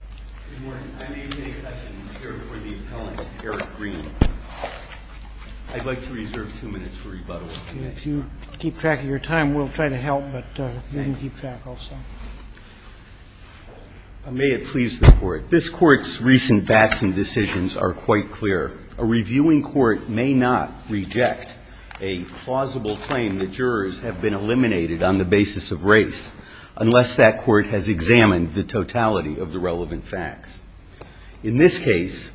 May it please the Court, This Court's recent Batson decisions are quite clear. A reviewing court may not reject a plausible claim that jurors have been eliminated on the basis of race unless that court has examined the totality of the relevant evidence. In this case,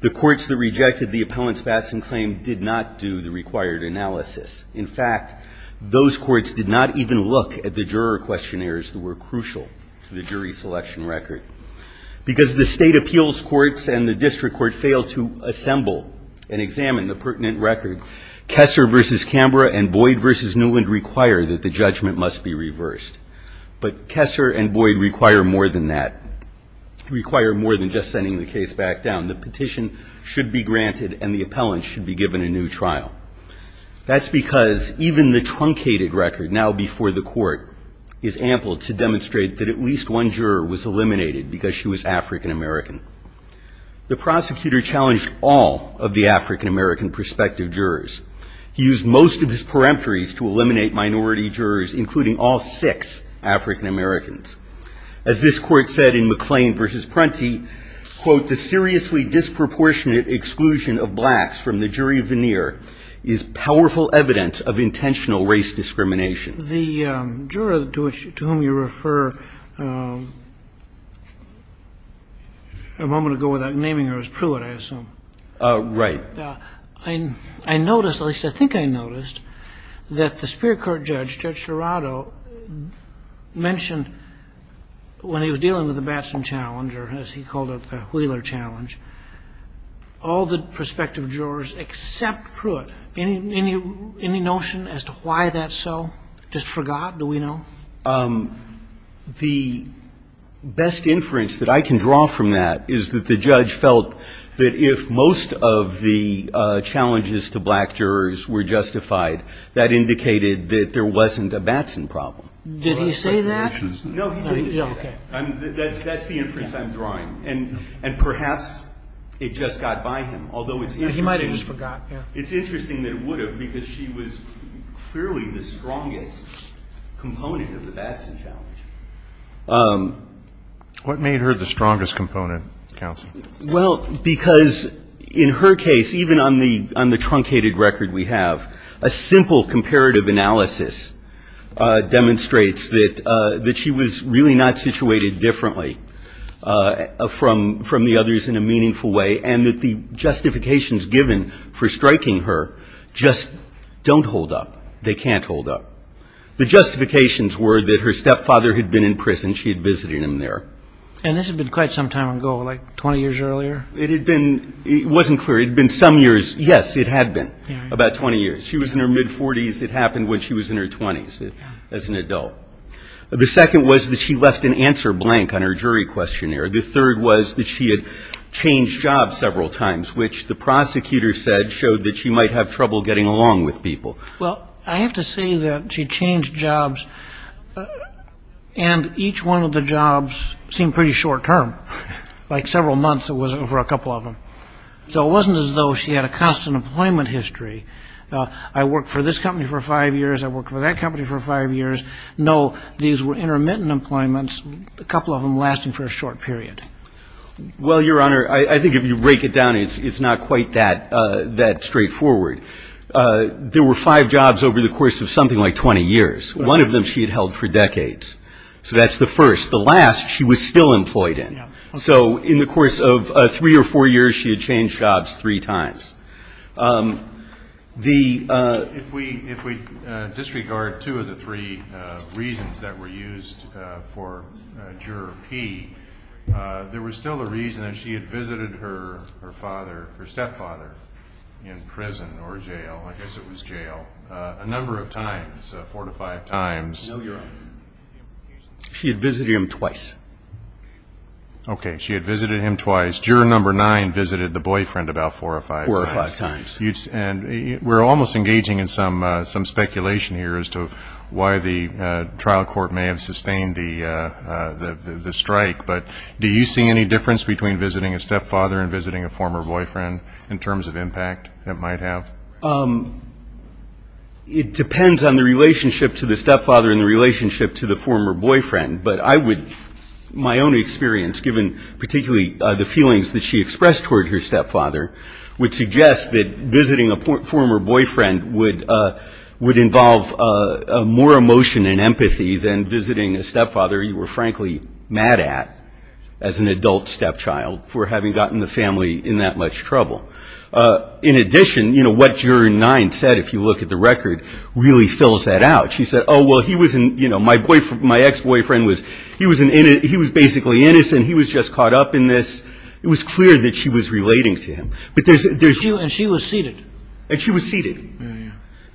the courts that rejected the appellant's Batson claim did not do the required analysis. In fact, those courts did not even look at the juror questionnaires that were crucial to the jury selection record. Because the state appeals courts and the district court failed to assemble and examine the pertinent record, Kessler v. Cambria and Boyd v. Newland require that the judgment must be reversed. But Kessler and Boyd require more than that, require more than just sending the case back down. The petition should be granted and the appellant should be given a new trial. That's because even the truncated record now before the court is ample to demonstrate that at least one juror was eliminated because she was African-American. The prosecutor challenged all of the African-American prospective jurors. He used most of his peremptories to eliminate minority jurors, including all six African-Americans. As this court said in McLean v. Prunty, quote, The seriously disproportionate exclusion of blacks from the jury veneer is a serious violation of African-American law. The juror to whom you refer a moment ago without naming her is Pruitt, I assume. Right. I noticed, at least I think I noticed, that the Superior Court judge, Judge Serrato, mentioned when he was dealing with the Batson challenge, or as he called it the Wheeler challenge, all the prospective jurors except Pruitt. Any notion as to why that's so? Just forgot? Do we know? The best inference that I can draw from that is that the judge felt that if most of the challenges to black jurors were justified, that indicated that there wasn't a Batson problem. Did he say that? No, he didn't. Okay. That's the inference I'm drawing. And perhaps it just got by him, although it's interesting. He might have just forgot. It's interesting that it would have, because she was clearly the strongest component of the Batson challenge. What made her the strongest component, counsel? Well, because in her case, even on the truncated record we have, a simple comparative analysis demonstrates that she was really not situated differently from the others in a meaningful way, and that the justifications given for striking her just don't hold up. They can't hold up. The justifications were that her stepfather had been in prison. She had visited him there. And this had been quite some time ago, like 20 years earlier? It had been — it wasn't clear. It had been some years. Yes, it had been about 20 years. She was in her mid-40s. It happened when she was in her 20s as an adult. The second was that she left an answer blank on her jury questionnaire. The third was that she had changed jobs several times, which the prosecutor said showed that she might have trouble getting along with people. Well, I have to say that she changed jobs, and each one of the jobs seemed pretty short-term. Like several months, it was over a couple of them. So it wasn't as though she had a constant employment history. I worked for this company for five years. I worked for that company for five years. No, these were intermittent employments, a couple of them lasting for a short period. Well, Your Honor, I think if you break it down, it's not quite that straightforward. There were five jobs over the course of something like 20 years. One of them she had held for decades. So that's the first. The last she was still employed in. So in the course of three or four years, she had changed jobs three times. If we disregard two of the three reasons that were used for Juror P, there was still a reason that she had visited her father, her stepfather, in prison or jail. I guess it was jail, a number of times, four to five times. No, Your Honor. She had visited him twice. Okay. She had visited him twice. Juror number nine visited the boyfriend about four or five times. And we're almost engaging in some speculation here as to why the trial court may have sustained the strike. But do you see any difference between visiting a stepfather and visiting a former boyfriend in terms of impact it might have? It depends on the relationship to the stepfather and the relationship to the former boyfriend. But I would, my own experience, given particularly the feelings that she expressed toward her stepfather, would suggest that visiting a former boyfriend would involve more emotion and empathy than visiting a stepfather you were, frankly, mad at as an adult stepchild for having gotten the family in that much trouble. In addition, you know, what Juror nine said, if you look at the record, really fills that out. She said, oh, well, he was, you know, my ex-boyfriend was, he was basically innocent. And he was just caught up in this. It was clear that she was relating to him. And she was seated. And she was seated. Yeah,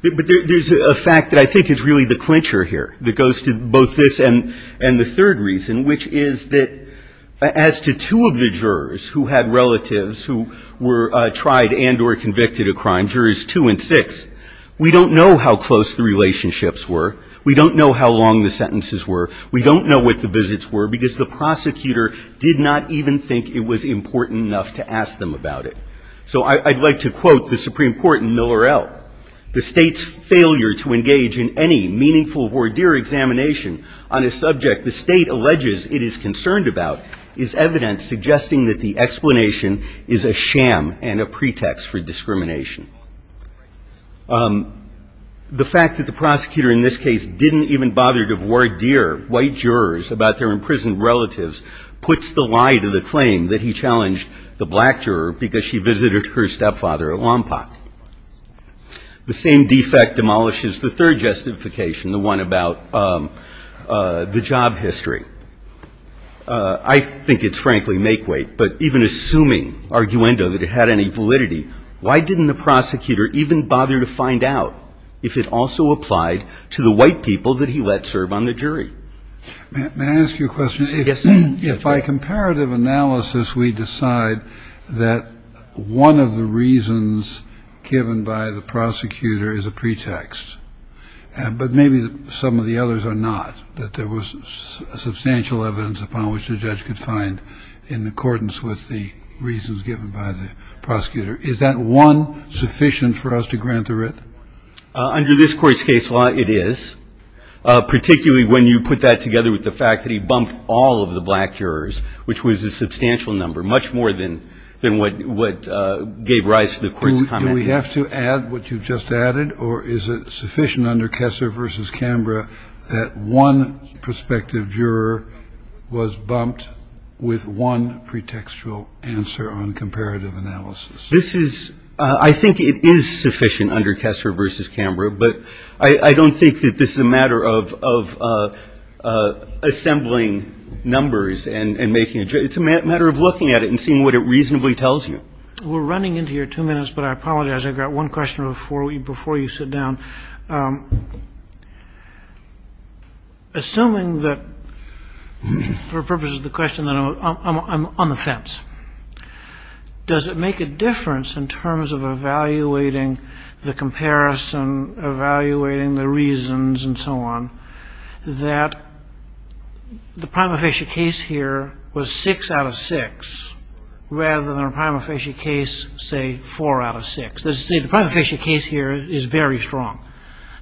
yeah. But there's a fact that I think is really the clincher here that goes to both this and the third reason, which is that as to two of the jurors who had relatives who were tried and or convicted of crime, Jurors two and six, we don't know how close the relationships were. We don't know how long the sentences were. We don't know what the visits were because the prosecutor did not even think it was important enough to ask them about it. So I'd like to quote the Supreme Court in Miller-El. The State's failure to engage in any meaningful voir dire examination on a subject the State alleges it is concerned about is evidence suggesting that the explanation is a sham and a pretext for discrimination. The fact that the prosecutor in this case didn't even bother to voir dire white jurors about their imprisoned relatives puts the lie to the claim that he challenged the black juror because she visited her stepfather at Wompoc. The same defect demolishes the third justification, the one about the job history. I think it's frankly make weight. But even assuming, arguendo, that it had any validity, why didn't the prosecutor even bother to find out if it also applied to the white people that he let serve on the jury? May I ask you a question? Yes, sir. If by comparative analysis we decide that one of the reasons given by the prosecutor is a pretext, but maybe some of the others are not, that there was substantial evidence upon which the judge could find in accordance with the reasons given by the prosecutor, is that one sufficient for us to grant the writ? Under this Court's case law, it is, particularly when you put that together with the fact that he bumped all of the black jurors, which was a substantial number, much more than what gave rise to the Court's comment. Do we have to add what you've just added? Or is it sufficient under Kessler v. Canberra that one prospective juror was bumped with one pretextual answer on comparative analysis? This is – I think it is sufficient under Kessler v. Canberra. But I don't think that this is a matter of assembling numbers and making – it's a matter of looking at it and seeing what it reasonably tells you. We're running into your two minutes, but I apologize. I've got one question before you sit down. Assuming that, for purposes of the question, that I'm on the fence, does it make a difference in terms of evaluating the comparison, evaluating the reasons, and so on, that the prima facie case here was 6 out of 6 rather than a prima facie case, say, 4 out of 6? Let's say the prima facie case here is very strong.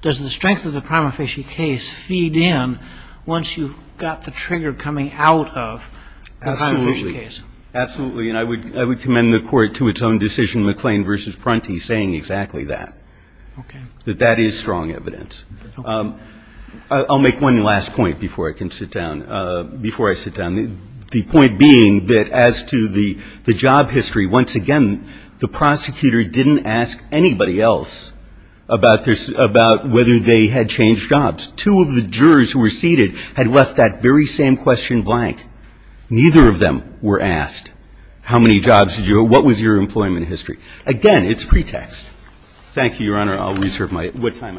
Does the strength of the prima facie case feed in once you've got the trigger coming out of the prima facie case? Absolutely. And I would commend the Court to its own decision, McLean v. Prunty, saying exactly that. Okay. That that is strong evidence. I'll make one last point before I can sit down, before I sit down, the point being that as to the job history, once again, the prosecutor didn't ask anybody else about whether they had changed jobs. Two of the jurors who were seated had left that very same question blank. Neither of them were asked how many jobs did you have, what was your employment history. Again, it's pretext. Thank you, Your Honor. I'll reserve my time.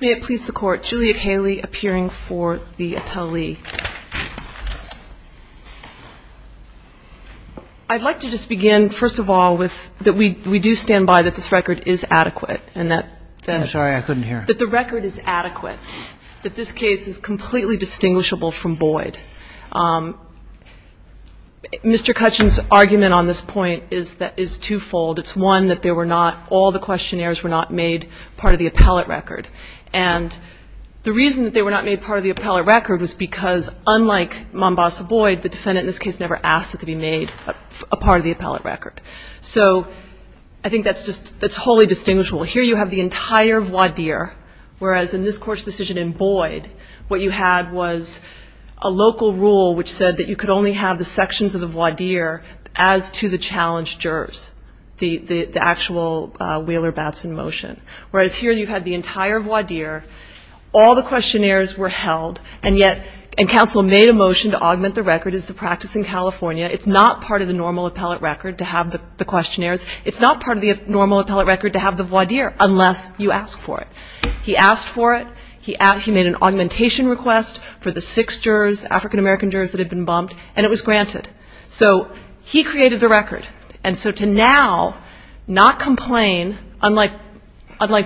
May it please the Court. Juliet Haley, appearing for the appellee. I'd like to just begin, first of all, with that we do stand by that this record is adequate and that the record is adequate, that this case is completely distinguishable from Boyd. Mr. Cutchin's argument on this point is twofold. It's, one, that there were not, all the questionnaires were not made part of the appellate record. And the reason that they were not made part of the appellate record was because, unlike Mombasa-Boyd, the defendant in this case never asked it to be made a part of the appellate record. So I think that's just, that's wholly distinguishable. Here you have the entire voir dire, whereas in this Court's decision in Boyd, what you had was a local rule which said that you could only have the sections of the voir dire as to the challenged jurors, the actual Wheeler-Batson motion. Whereas here you had the entire voir dire, all the questionnaires were held, and yet, and counsel made a motion to augment the record as the practice in California. It's not part of the normal appellate record to have the questionnaires. It's not part of the normal appellate record to have the voir dire, unless you ask for it. He asked for it. He made an augmentation request for the six jurors, African-American jurors that had been bumped, and it was granted. So he created the record. And so to now not complain, unlike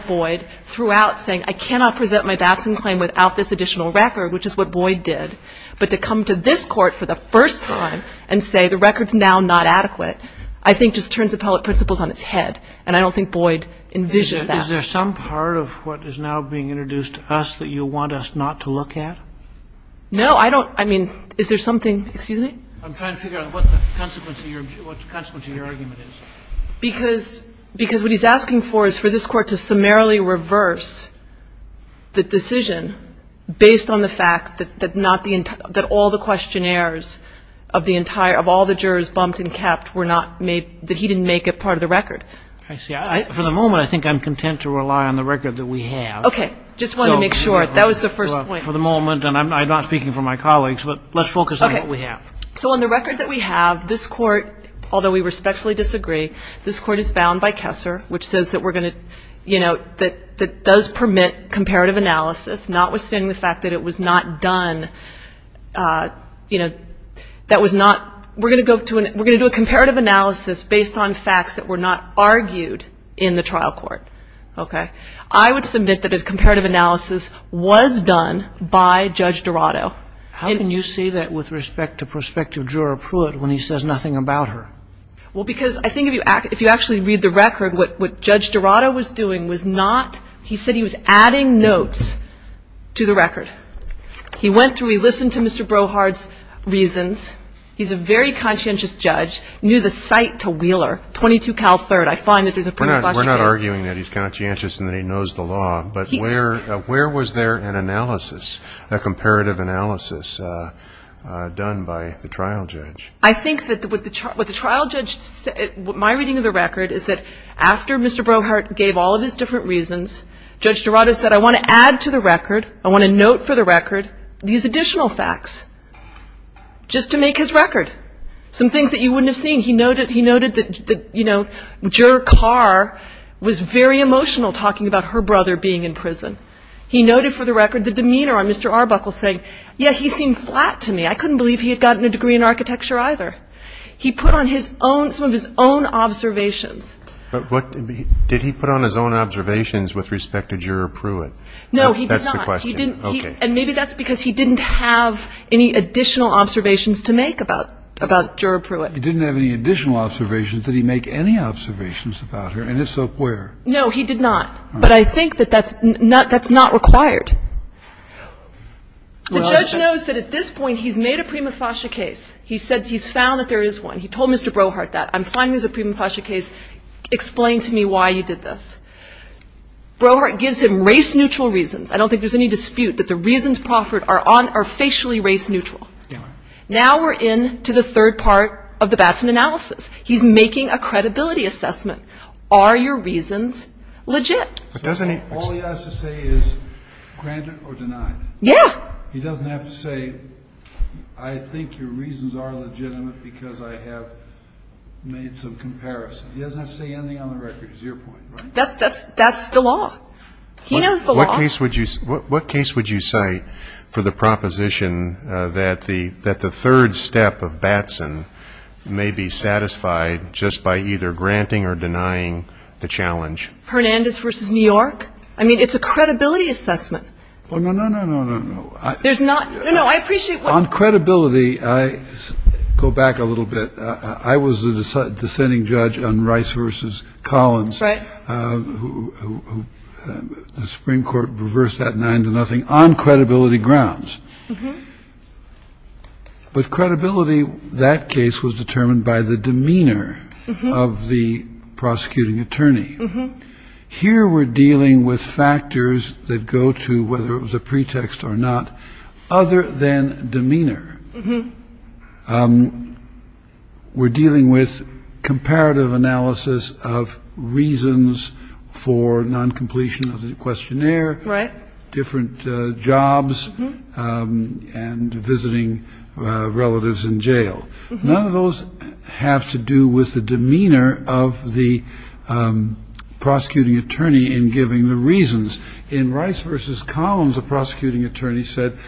Boyd, throughout saying, I cannot present my Batson claim without this additional record, which is what Boyd did, but to come to this Court for the first time and say the record's now not adequate, I think just turns appellate principles on its head, and I don't think Boyd envisioned that. Is there some part of what is now being introduced to us that you want us not to look at? No, I don't. I mean, is there something? Excuse me? I'm trying to figure out what the consequence of your argument is. Because what he's asking for is for this Court to summarily reverse the decision based on the fact that not the entire, that all the questionnaires of the entire, of all the jurors bumped and capped were not made, that he didn't make it part of the record. I see. For the moment, I think I'm content to rely on the record that we have. Okay. Just wanted to make sure. That was the first point. For the moment, and I'm not speaking for my colleagues, but let's focus on what we have. Okay. So on the record that we have, this Court, although we respectfully disagree, this Court is bound by Kessler, which says that we're going to, you know, that does permit comparative analysis, notwithstanding the fact that it was not done, you know, that was not, we're going to go to, we're going to do a comparative analysis based on facts that were not argued in the trial court. Okay. I would submit that a comparative analysis was done by Judge Dorado. How can you say that with respect to Prospective Juror Pruitt when he says nothing about her? Well, because I think if you actually read the record, what Judge Dorado was doing was not, he said he was adding notes to the record. He went through, he listened to Mr. Brohard's reasons. He's a very conscientious judge, knew the site to Wheeler, 22 Cal 3rd. I find that there's a pretty flashy case. We're not arguing that he's conscientious and that he knows the law. But where was there an analysis, a comparative analysis done by the trial judge? I think that what the trial judge, my reading of the record is that after Mr. Brohard gave all of his different reasons, Judge Dorado said I want to add to the record, I want a note for the record, these additional facts, just to make his record, some things that you wouldn't have seen. He noted that, you know, Juror Carr was very emotional talking about her brother being in prison. He noted for the record the demeanor on Mr. Arbuckle saying, yeah, he seemed flat to me. I couldn't believe he had gotten a degree in architecture either. He put on some of his own observations. But did he put on his own observations with respect to Juror Pruitt? No, he did not. That's the question. Okay. And maybe that's because he didn't have any additional observations to make about Juror Pruitt. He didn't have any additional observations. Did he make any observations about her? And if so, where? No, he did not. But I think that that's not required. The judge knows that at this point he's made a prima facie case. He said he's found that there is one. He told Mr. Brohardt that. I'm finding there's a prima facie case. Explain to me why you did this. Brohardt gives him race-neutral reasons. I don't think there's any dispute that the reasons proffered are facially race-neutral. Now we're into the third part of the Batson analysis. He's making a credibility assessment. Are your reasons legit? All he has to say is granted or denied. Yeah. He doesn't have to say, I think your reasons are legitimate because I have made some comparison. He doesn't have to say anything on the record. It's your point, right? That's the law. He knows the law. What case would you cite for the proposition that the third step of Batson may be satisfied just by either granting or denying the challenge? Hernandez v. New York. I mean, it's a credibility assessment. Oh, no, no, no, no, no, no. There's not. No, no, I appreciate what you're saying. On credibility, I go back a little bit. I was the dissenting judge on Rice v. Collins. Right. The Supreme Court reversed that 9-0 on credibility grounds. Mm-hmm. But credibility, that case was determined by the demeanor of the prosecuting attorney. Mm-hmm. Here we're dealing with factors that go to whether it was a pretext or not other than demeanor. Mm-hmm. We're dealing with comparative analysis of reasons for non-completion of the questionnaire. Different jobs and visiting relatives in jail. None of those have to do with the demeanor of the prosecuting attorney in giving the reasons. In Rice v. Collins, the prosecuting attorney said,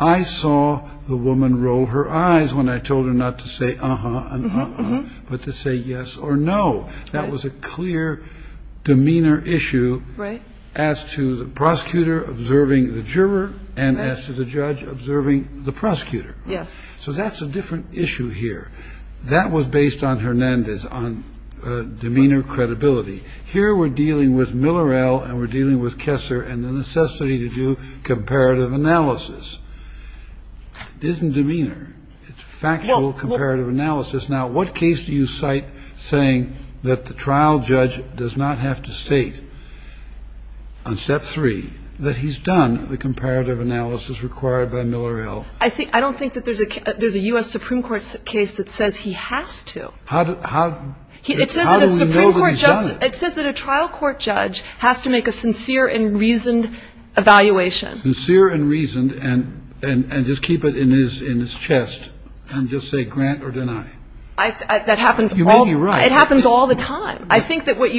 I saw the woman roll her eyes when I told her not to say uh-huh and uh-uh, but to say yes or no. That was a clear demeanor issue. Right. As to the prosecutor observing the juror and as to the judge observing the prosecutor. Yes. So that's a different issue here. That was based on Hernandez, on demeanor credibility. Here we're dealing with Miller-El and we're dealing with Kessler and the necessity to do comparative analysis. It isn't demeanor. It's factual comparative analysis. Now, what case do you cite saying that the trial judge does not have to state on Step 3 that he's done the comparative analysis required by Miller-El? I don't think that there's a U.S. Supreme Court case that says he has to. How do we know that he's done it? It says that a trial court judge has to make a sincere and reasoned evaluation. Sincere and reasoned and just keep it in his chest and just say grant or deny. You may be right. It happens all the time. I think that where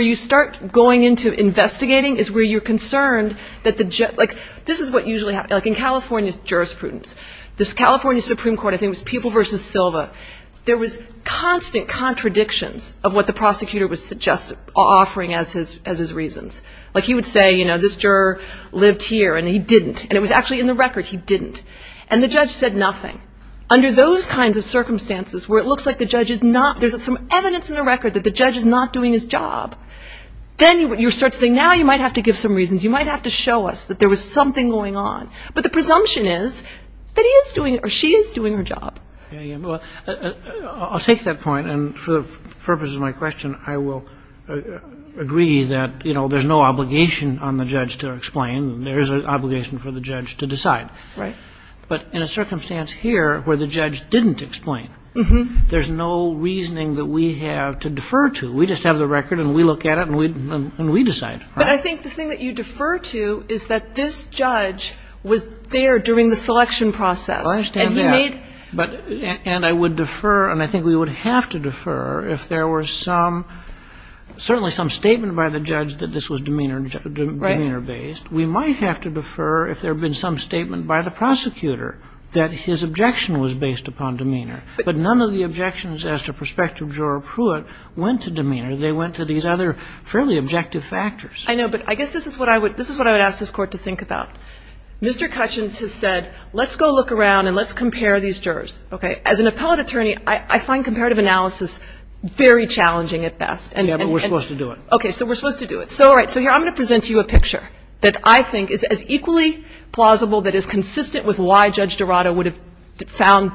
you start going into investigating is where you're concerned. This is what usually happens. Like in California's jurisprudence, this California Supreme Court, I think it was People v. Silva, there was constant contradictions of what the prosecutor was offering as his reasons. Like he would say, you know, this juror lived here and he didn't. And it was actually in the record, he didn't. And the judge said nothing. Under those kinds of circumstances where it looks like the judge is not, there's some evidence in the record that the judge is not doing his job, then you start saying now you might have to give some reasons. You might have to show us that there was something going on. But the presumption is that he is doing or she is doing her job. Well, I'll take that point and for the purposes of my question, I will agree that, you know, there's no obligation on the judge to explain. There is an obligation for the judge to decide. Right. But in a circumstance here where the judge didn't explain, there's no reasoning that we have to defer to. We just have the record and we look at it and we decide. But I think the thing that you defer to is that this judge was there during the selection process. Well, I understand that. And he made. And I would defer and I think we would have to defer if there were some, certainly some statement by the judge that this was demeanor based. Right. We might have to defer if there had been some statement by the prosecutor that his objection was based upon demeanor. But none of the objections as to prospective juror Pruitt went to demeanor. They went to these other fairly objective factors. I know. But I guess this is what I would ask this Court to think about. Mr. Cutchins has said, let's go look around and let's compare these jurors. Okay. As an appellate attorney, I find comparative analysis very challenging at best. Yeah, but we're supposed to do it. Okay. So we're supposed to do it. So, all right. So here I'm going to present to you a picture that I think is as equally plausible that is consistent with why Judge Dorado would have found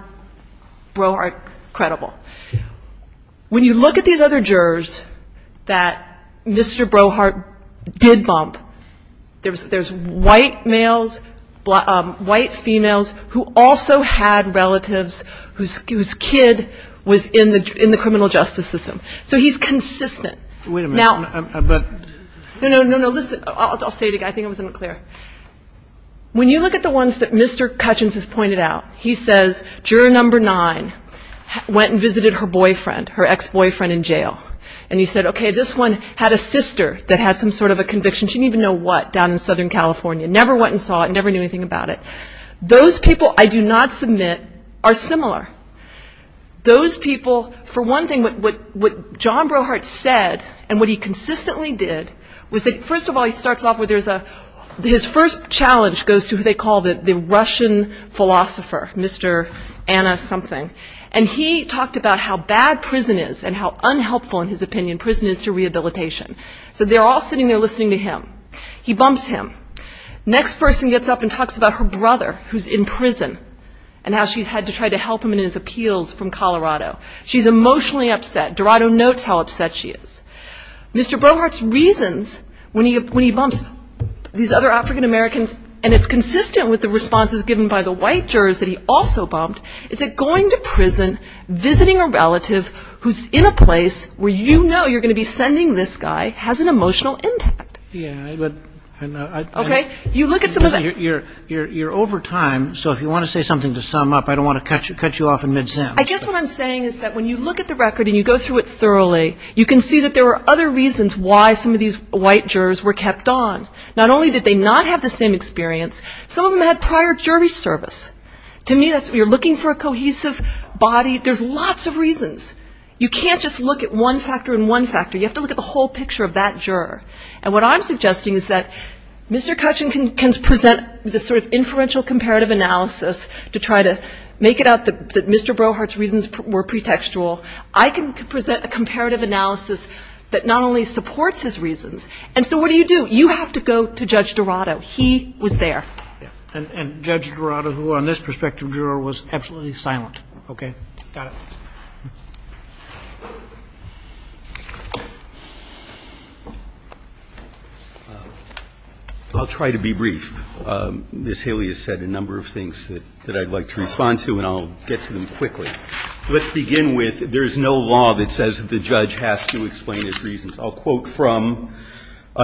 Brohart credible. Yeah. When you look at these other jurors that Mr. Brohart did bump, there's white males, white females who also had relatives whose kid was in the criminal justice system. So he's consistent. Wait a minute. No, no, no, no. Listen. I'll say it again. I think it was unclear. When you look at the ones that Mr. Cutchins has pointed out, he says juror number nine went and visited her boyfriend, her ex-boyfriend in jail. And he said, okay, this one had a sister that had some sort of a conviction. She didn't even know what down in Southern California. Never went and saw it. Never knew anything about it. Those people I do not submit are similar. Those people, for one thing, what John Brohart said and what he consistently did was that, first of all, his first challenge goes to who they call the Russian philosopher, Mr. Anna something. And he talked about how bad prison is and how unhelpful, in his opinion, prison is to rehabilitation. So they're all sitting there listening to him. He bumps him. Next person gets up and talks about her brother who's in prison and how she's had to try to help him in his appeals from Colorado. She's emotionally upset. Dorado notes how upset she is. Mr. Brohart's reasons when he bumps these other African-Americans and it's consistent with the responses given by the white jurors that he also bumped is that going to prison, visiting a relative who's in a place where you know you're going to be sending this guy has an emotional impact. Okay. You look at some of that. You're over time, so if you want to say something to sum up, I don't want to cut you off in mid-sentence. I guess what I'm saying is that when you look at the record and you go through it thoroughly, you can see that there were other reasons why some of these white jurors were kept on. Not only did they not have the same experience, some of them had prior jury service. To me, you're looking for a cohesive body. There's lots of reasons. You can't just look at one factor and one factor. You have to look at the whole picture of that juror. And what I'm suggesting is that Mr. Cutchin can present this sort of inferential comparative analysis to try to make it out that Mr. Brohart's reasons were pretextual. I can present a comparative analysis that not only supports his reasons. And so what do you do? You have to go to Judge Dorado. He was there. And Judge Dorado, who on this perspective, was absolutely silent. Okay. Got it. I'll try to be brief. Ms. Haley has said a number of things that I'd like to respond to, and I'll get to them quickly. Let's begin with there's no law that says the judge has to explain his reasons. I'll quote from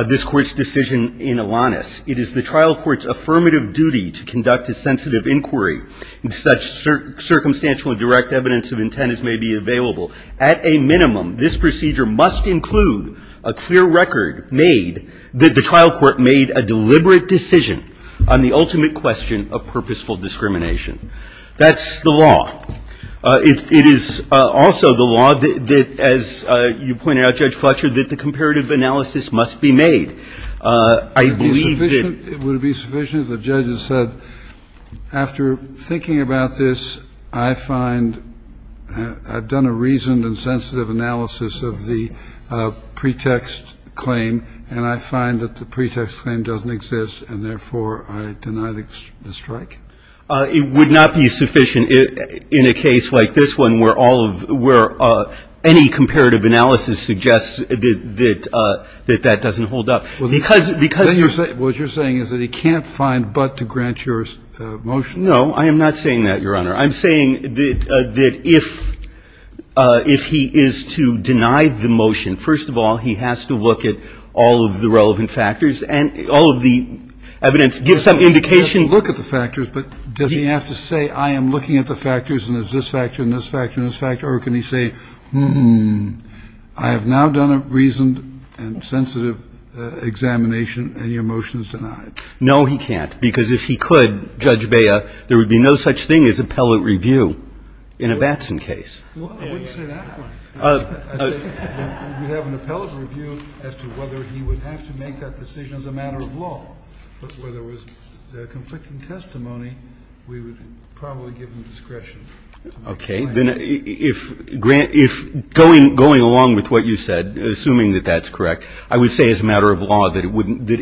this Court's decision in Alanis. It is the trial court's affirmative duty to conduct a sensitive inquiry in such circumstantial and direct evidence of intent as may be available. At a minimum, this procedure must include a clear record made that the trial court made a deliberate decision on the ultimate question of purposeful discrimination. That's the law. It is also the law that, as you pointed out, Judge Fletcher, that the comparative analysis must be made. I believe that the judge has said, after thinking about this, I find I've done a reasoned and sensitive analysis of the pretext claim, and I find that the pretext claim doesn't exist, and therefore I deny the strike. It would not be sufficient in a case like this one where all of – where any comparative analysis suggests that that doesn't hold up. Because you're saying – What you're saying is that he can't find but to grant your motion? No. I am not saying that, Your Honor. I'm saying that if he is to deny the motion, first of all, he has to look at all of the relevant factors and all of the evidence, give some indication. He can look at the factors, but does he have to say, I am looking at the factors and there's this factor and this factor and this factor, or can he say, hmm, I have now done a reasoned and sensitive examination and your motion is denied? No, he can't. Because if he could, Judge Bea, there would be no such thing as appellate review in a Batson case. Well, I wouldn't say that one. I think you have an appellate review as to whether he would have to make that decision as a matter of law. But where there was conflicting testimony, we would probably give him discretion. Okay. Then if going along with what you said, assuming that that's correct, I would say as a matter of law that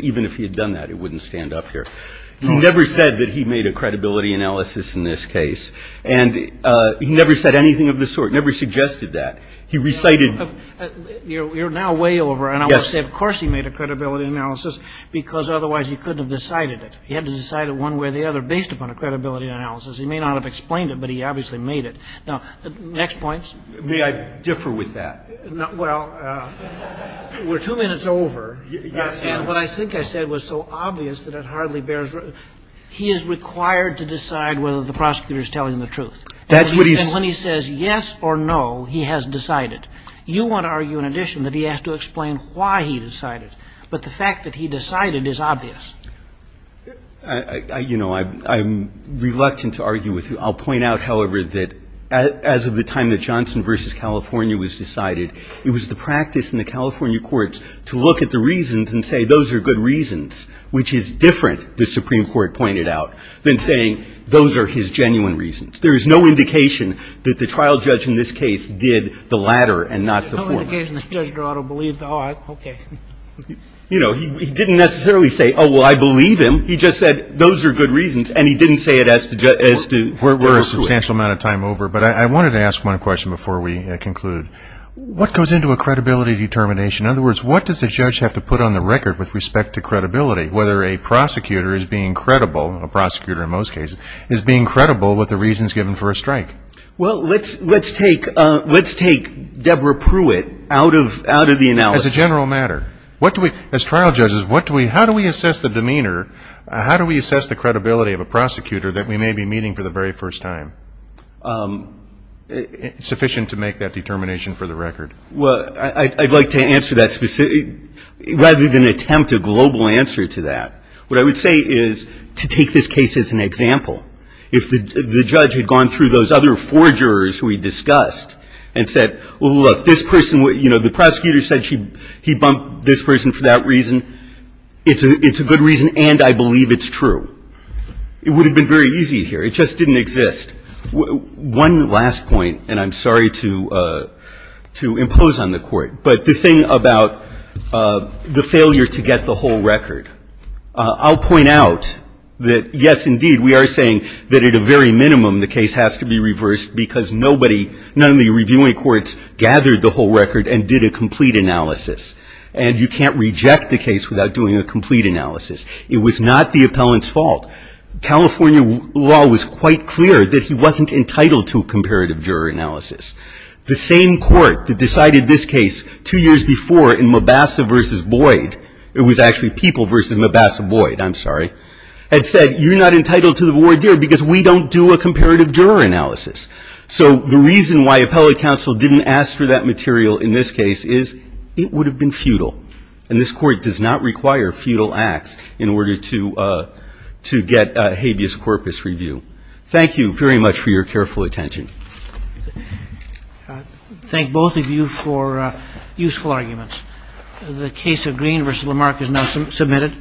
even if he had done that, it wouldn't stand up here. He never said that he made a credibility analysis in this case. And he never said anything of the sort, never suggested that. He recited – You're now way over. Yes. I would say of course he made a credibility analysis, because otherwise he couldn't have decided it. He had to decide it one way or the other based upon a credibility analysis. He may not have explained it, but he obviously made it. Now, next point. May I differ with that? Well, we're two minutes over. Yes, Your Honor. And what I think I said was so obvious that it hardly bears – he is required to decide whether the prosecutor is telling the truth. That's what he's – And when he says yes or no, he has decided. You want to argue in addition that he has to explain why he decided. But the fact that he decided is obvious. You know, I'm reluctant to argue with you. I'll point out, however, that as of the time that Johnson v. California was decided, it was the practice in the California courts to look at the reasons and say those are good reasons, which is different, the Supreme Court pointed out, than saying those are his genuine reasons. There is no indication that the trial judge in this case did the latter and not the former. There's no indication that Judge Dorado believed – oh, okay. You know, he didn't necessarily say, oh, well, I believe him. He just said those are good reasons, and he didn't say it as to – We're a substantial amount of time over. But I wanted to ask one question before we conclude. What goes into a credibility determination? In other words, what does the judge have to put on the record with respect to credibility, whether a prosecutor is being credible – a prosecutor in most cases – is being credible with the reasons given for a strike? Well, let's take Deborah Pruitt out of the analysis. As a general matter. What do we – as trial judges, what do we – how do we assess the demeanor, how do we assess the credibility of a prosecutor that we may be meeting for the very first time? It's sufficient to make that determination for the record. Well, I'd like to answer that rather than attempt a global answer to that. What I would say is to take this case as an example. If the judge had gone through those other four jurors who we discussed and said, well, look, this person – you know, the prosecutor said he bumped this person for that reason. It's a good reason, and I believe it's true. It would have been very easy here. It just didn't exist. One last point, and I'm sorry to impose on the Court. But the thing about the failure to get the whole record, I'll point out that, yes, indeed, we are saying that at a very minimum the case has to be reversed because nobody – none of the reviewing courts gathered the whole record and did a complete analysis. And you can't reject the case without doing a complete analysis. It was not the appellant's fault. California law was quite clear that he wasn't entitled to a comparative juror analysis. The same court that decided this case two years before in Mabassa v. Boyd – it was actually People v. Mabassa-Boyd, I'm sorry – had said, you're not entitled to the voir dire because we don't do a comparative juror analysis. So the reason why appellate counsel didn't ask for that material in this case is it would have been futile. And this Court does not require futile acts in order to get habeas corpus review. Thank you very much for your careful attention. I thank both of you for useful arguments. The case of Green v. Lamarck is now submitted.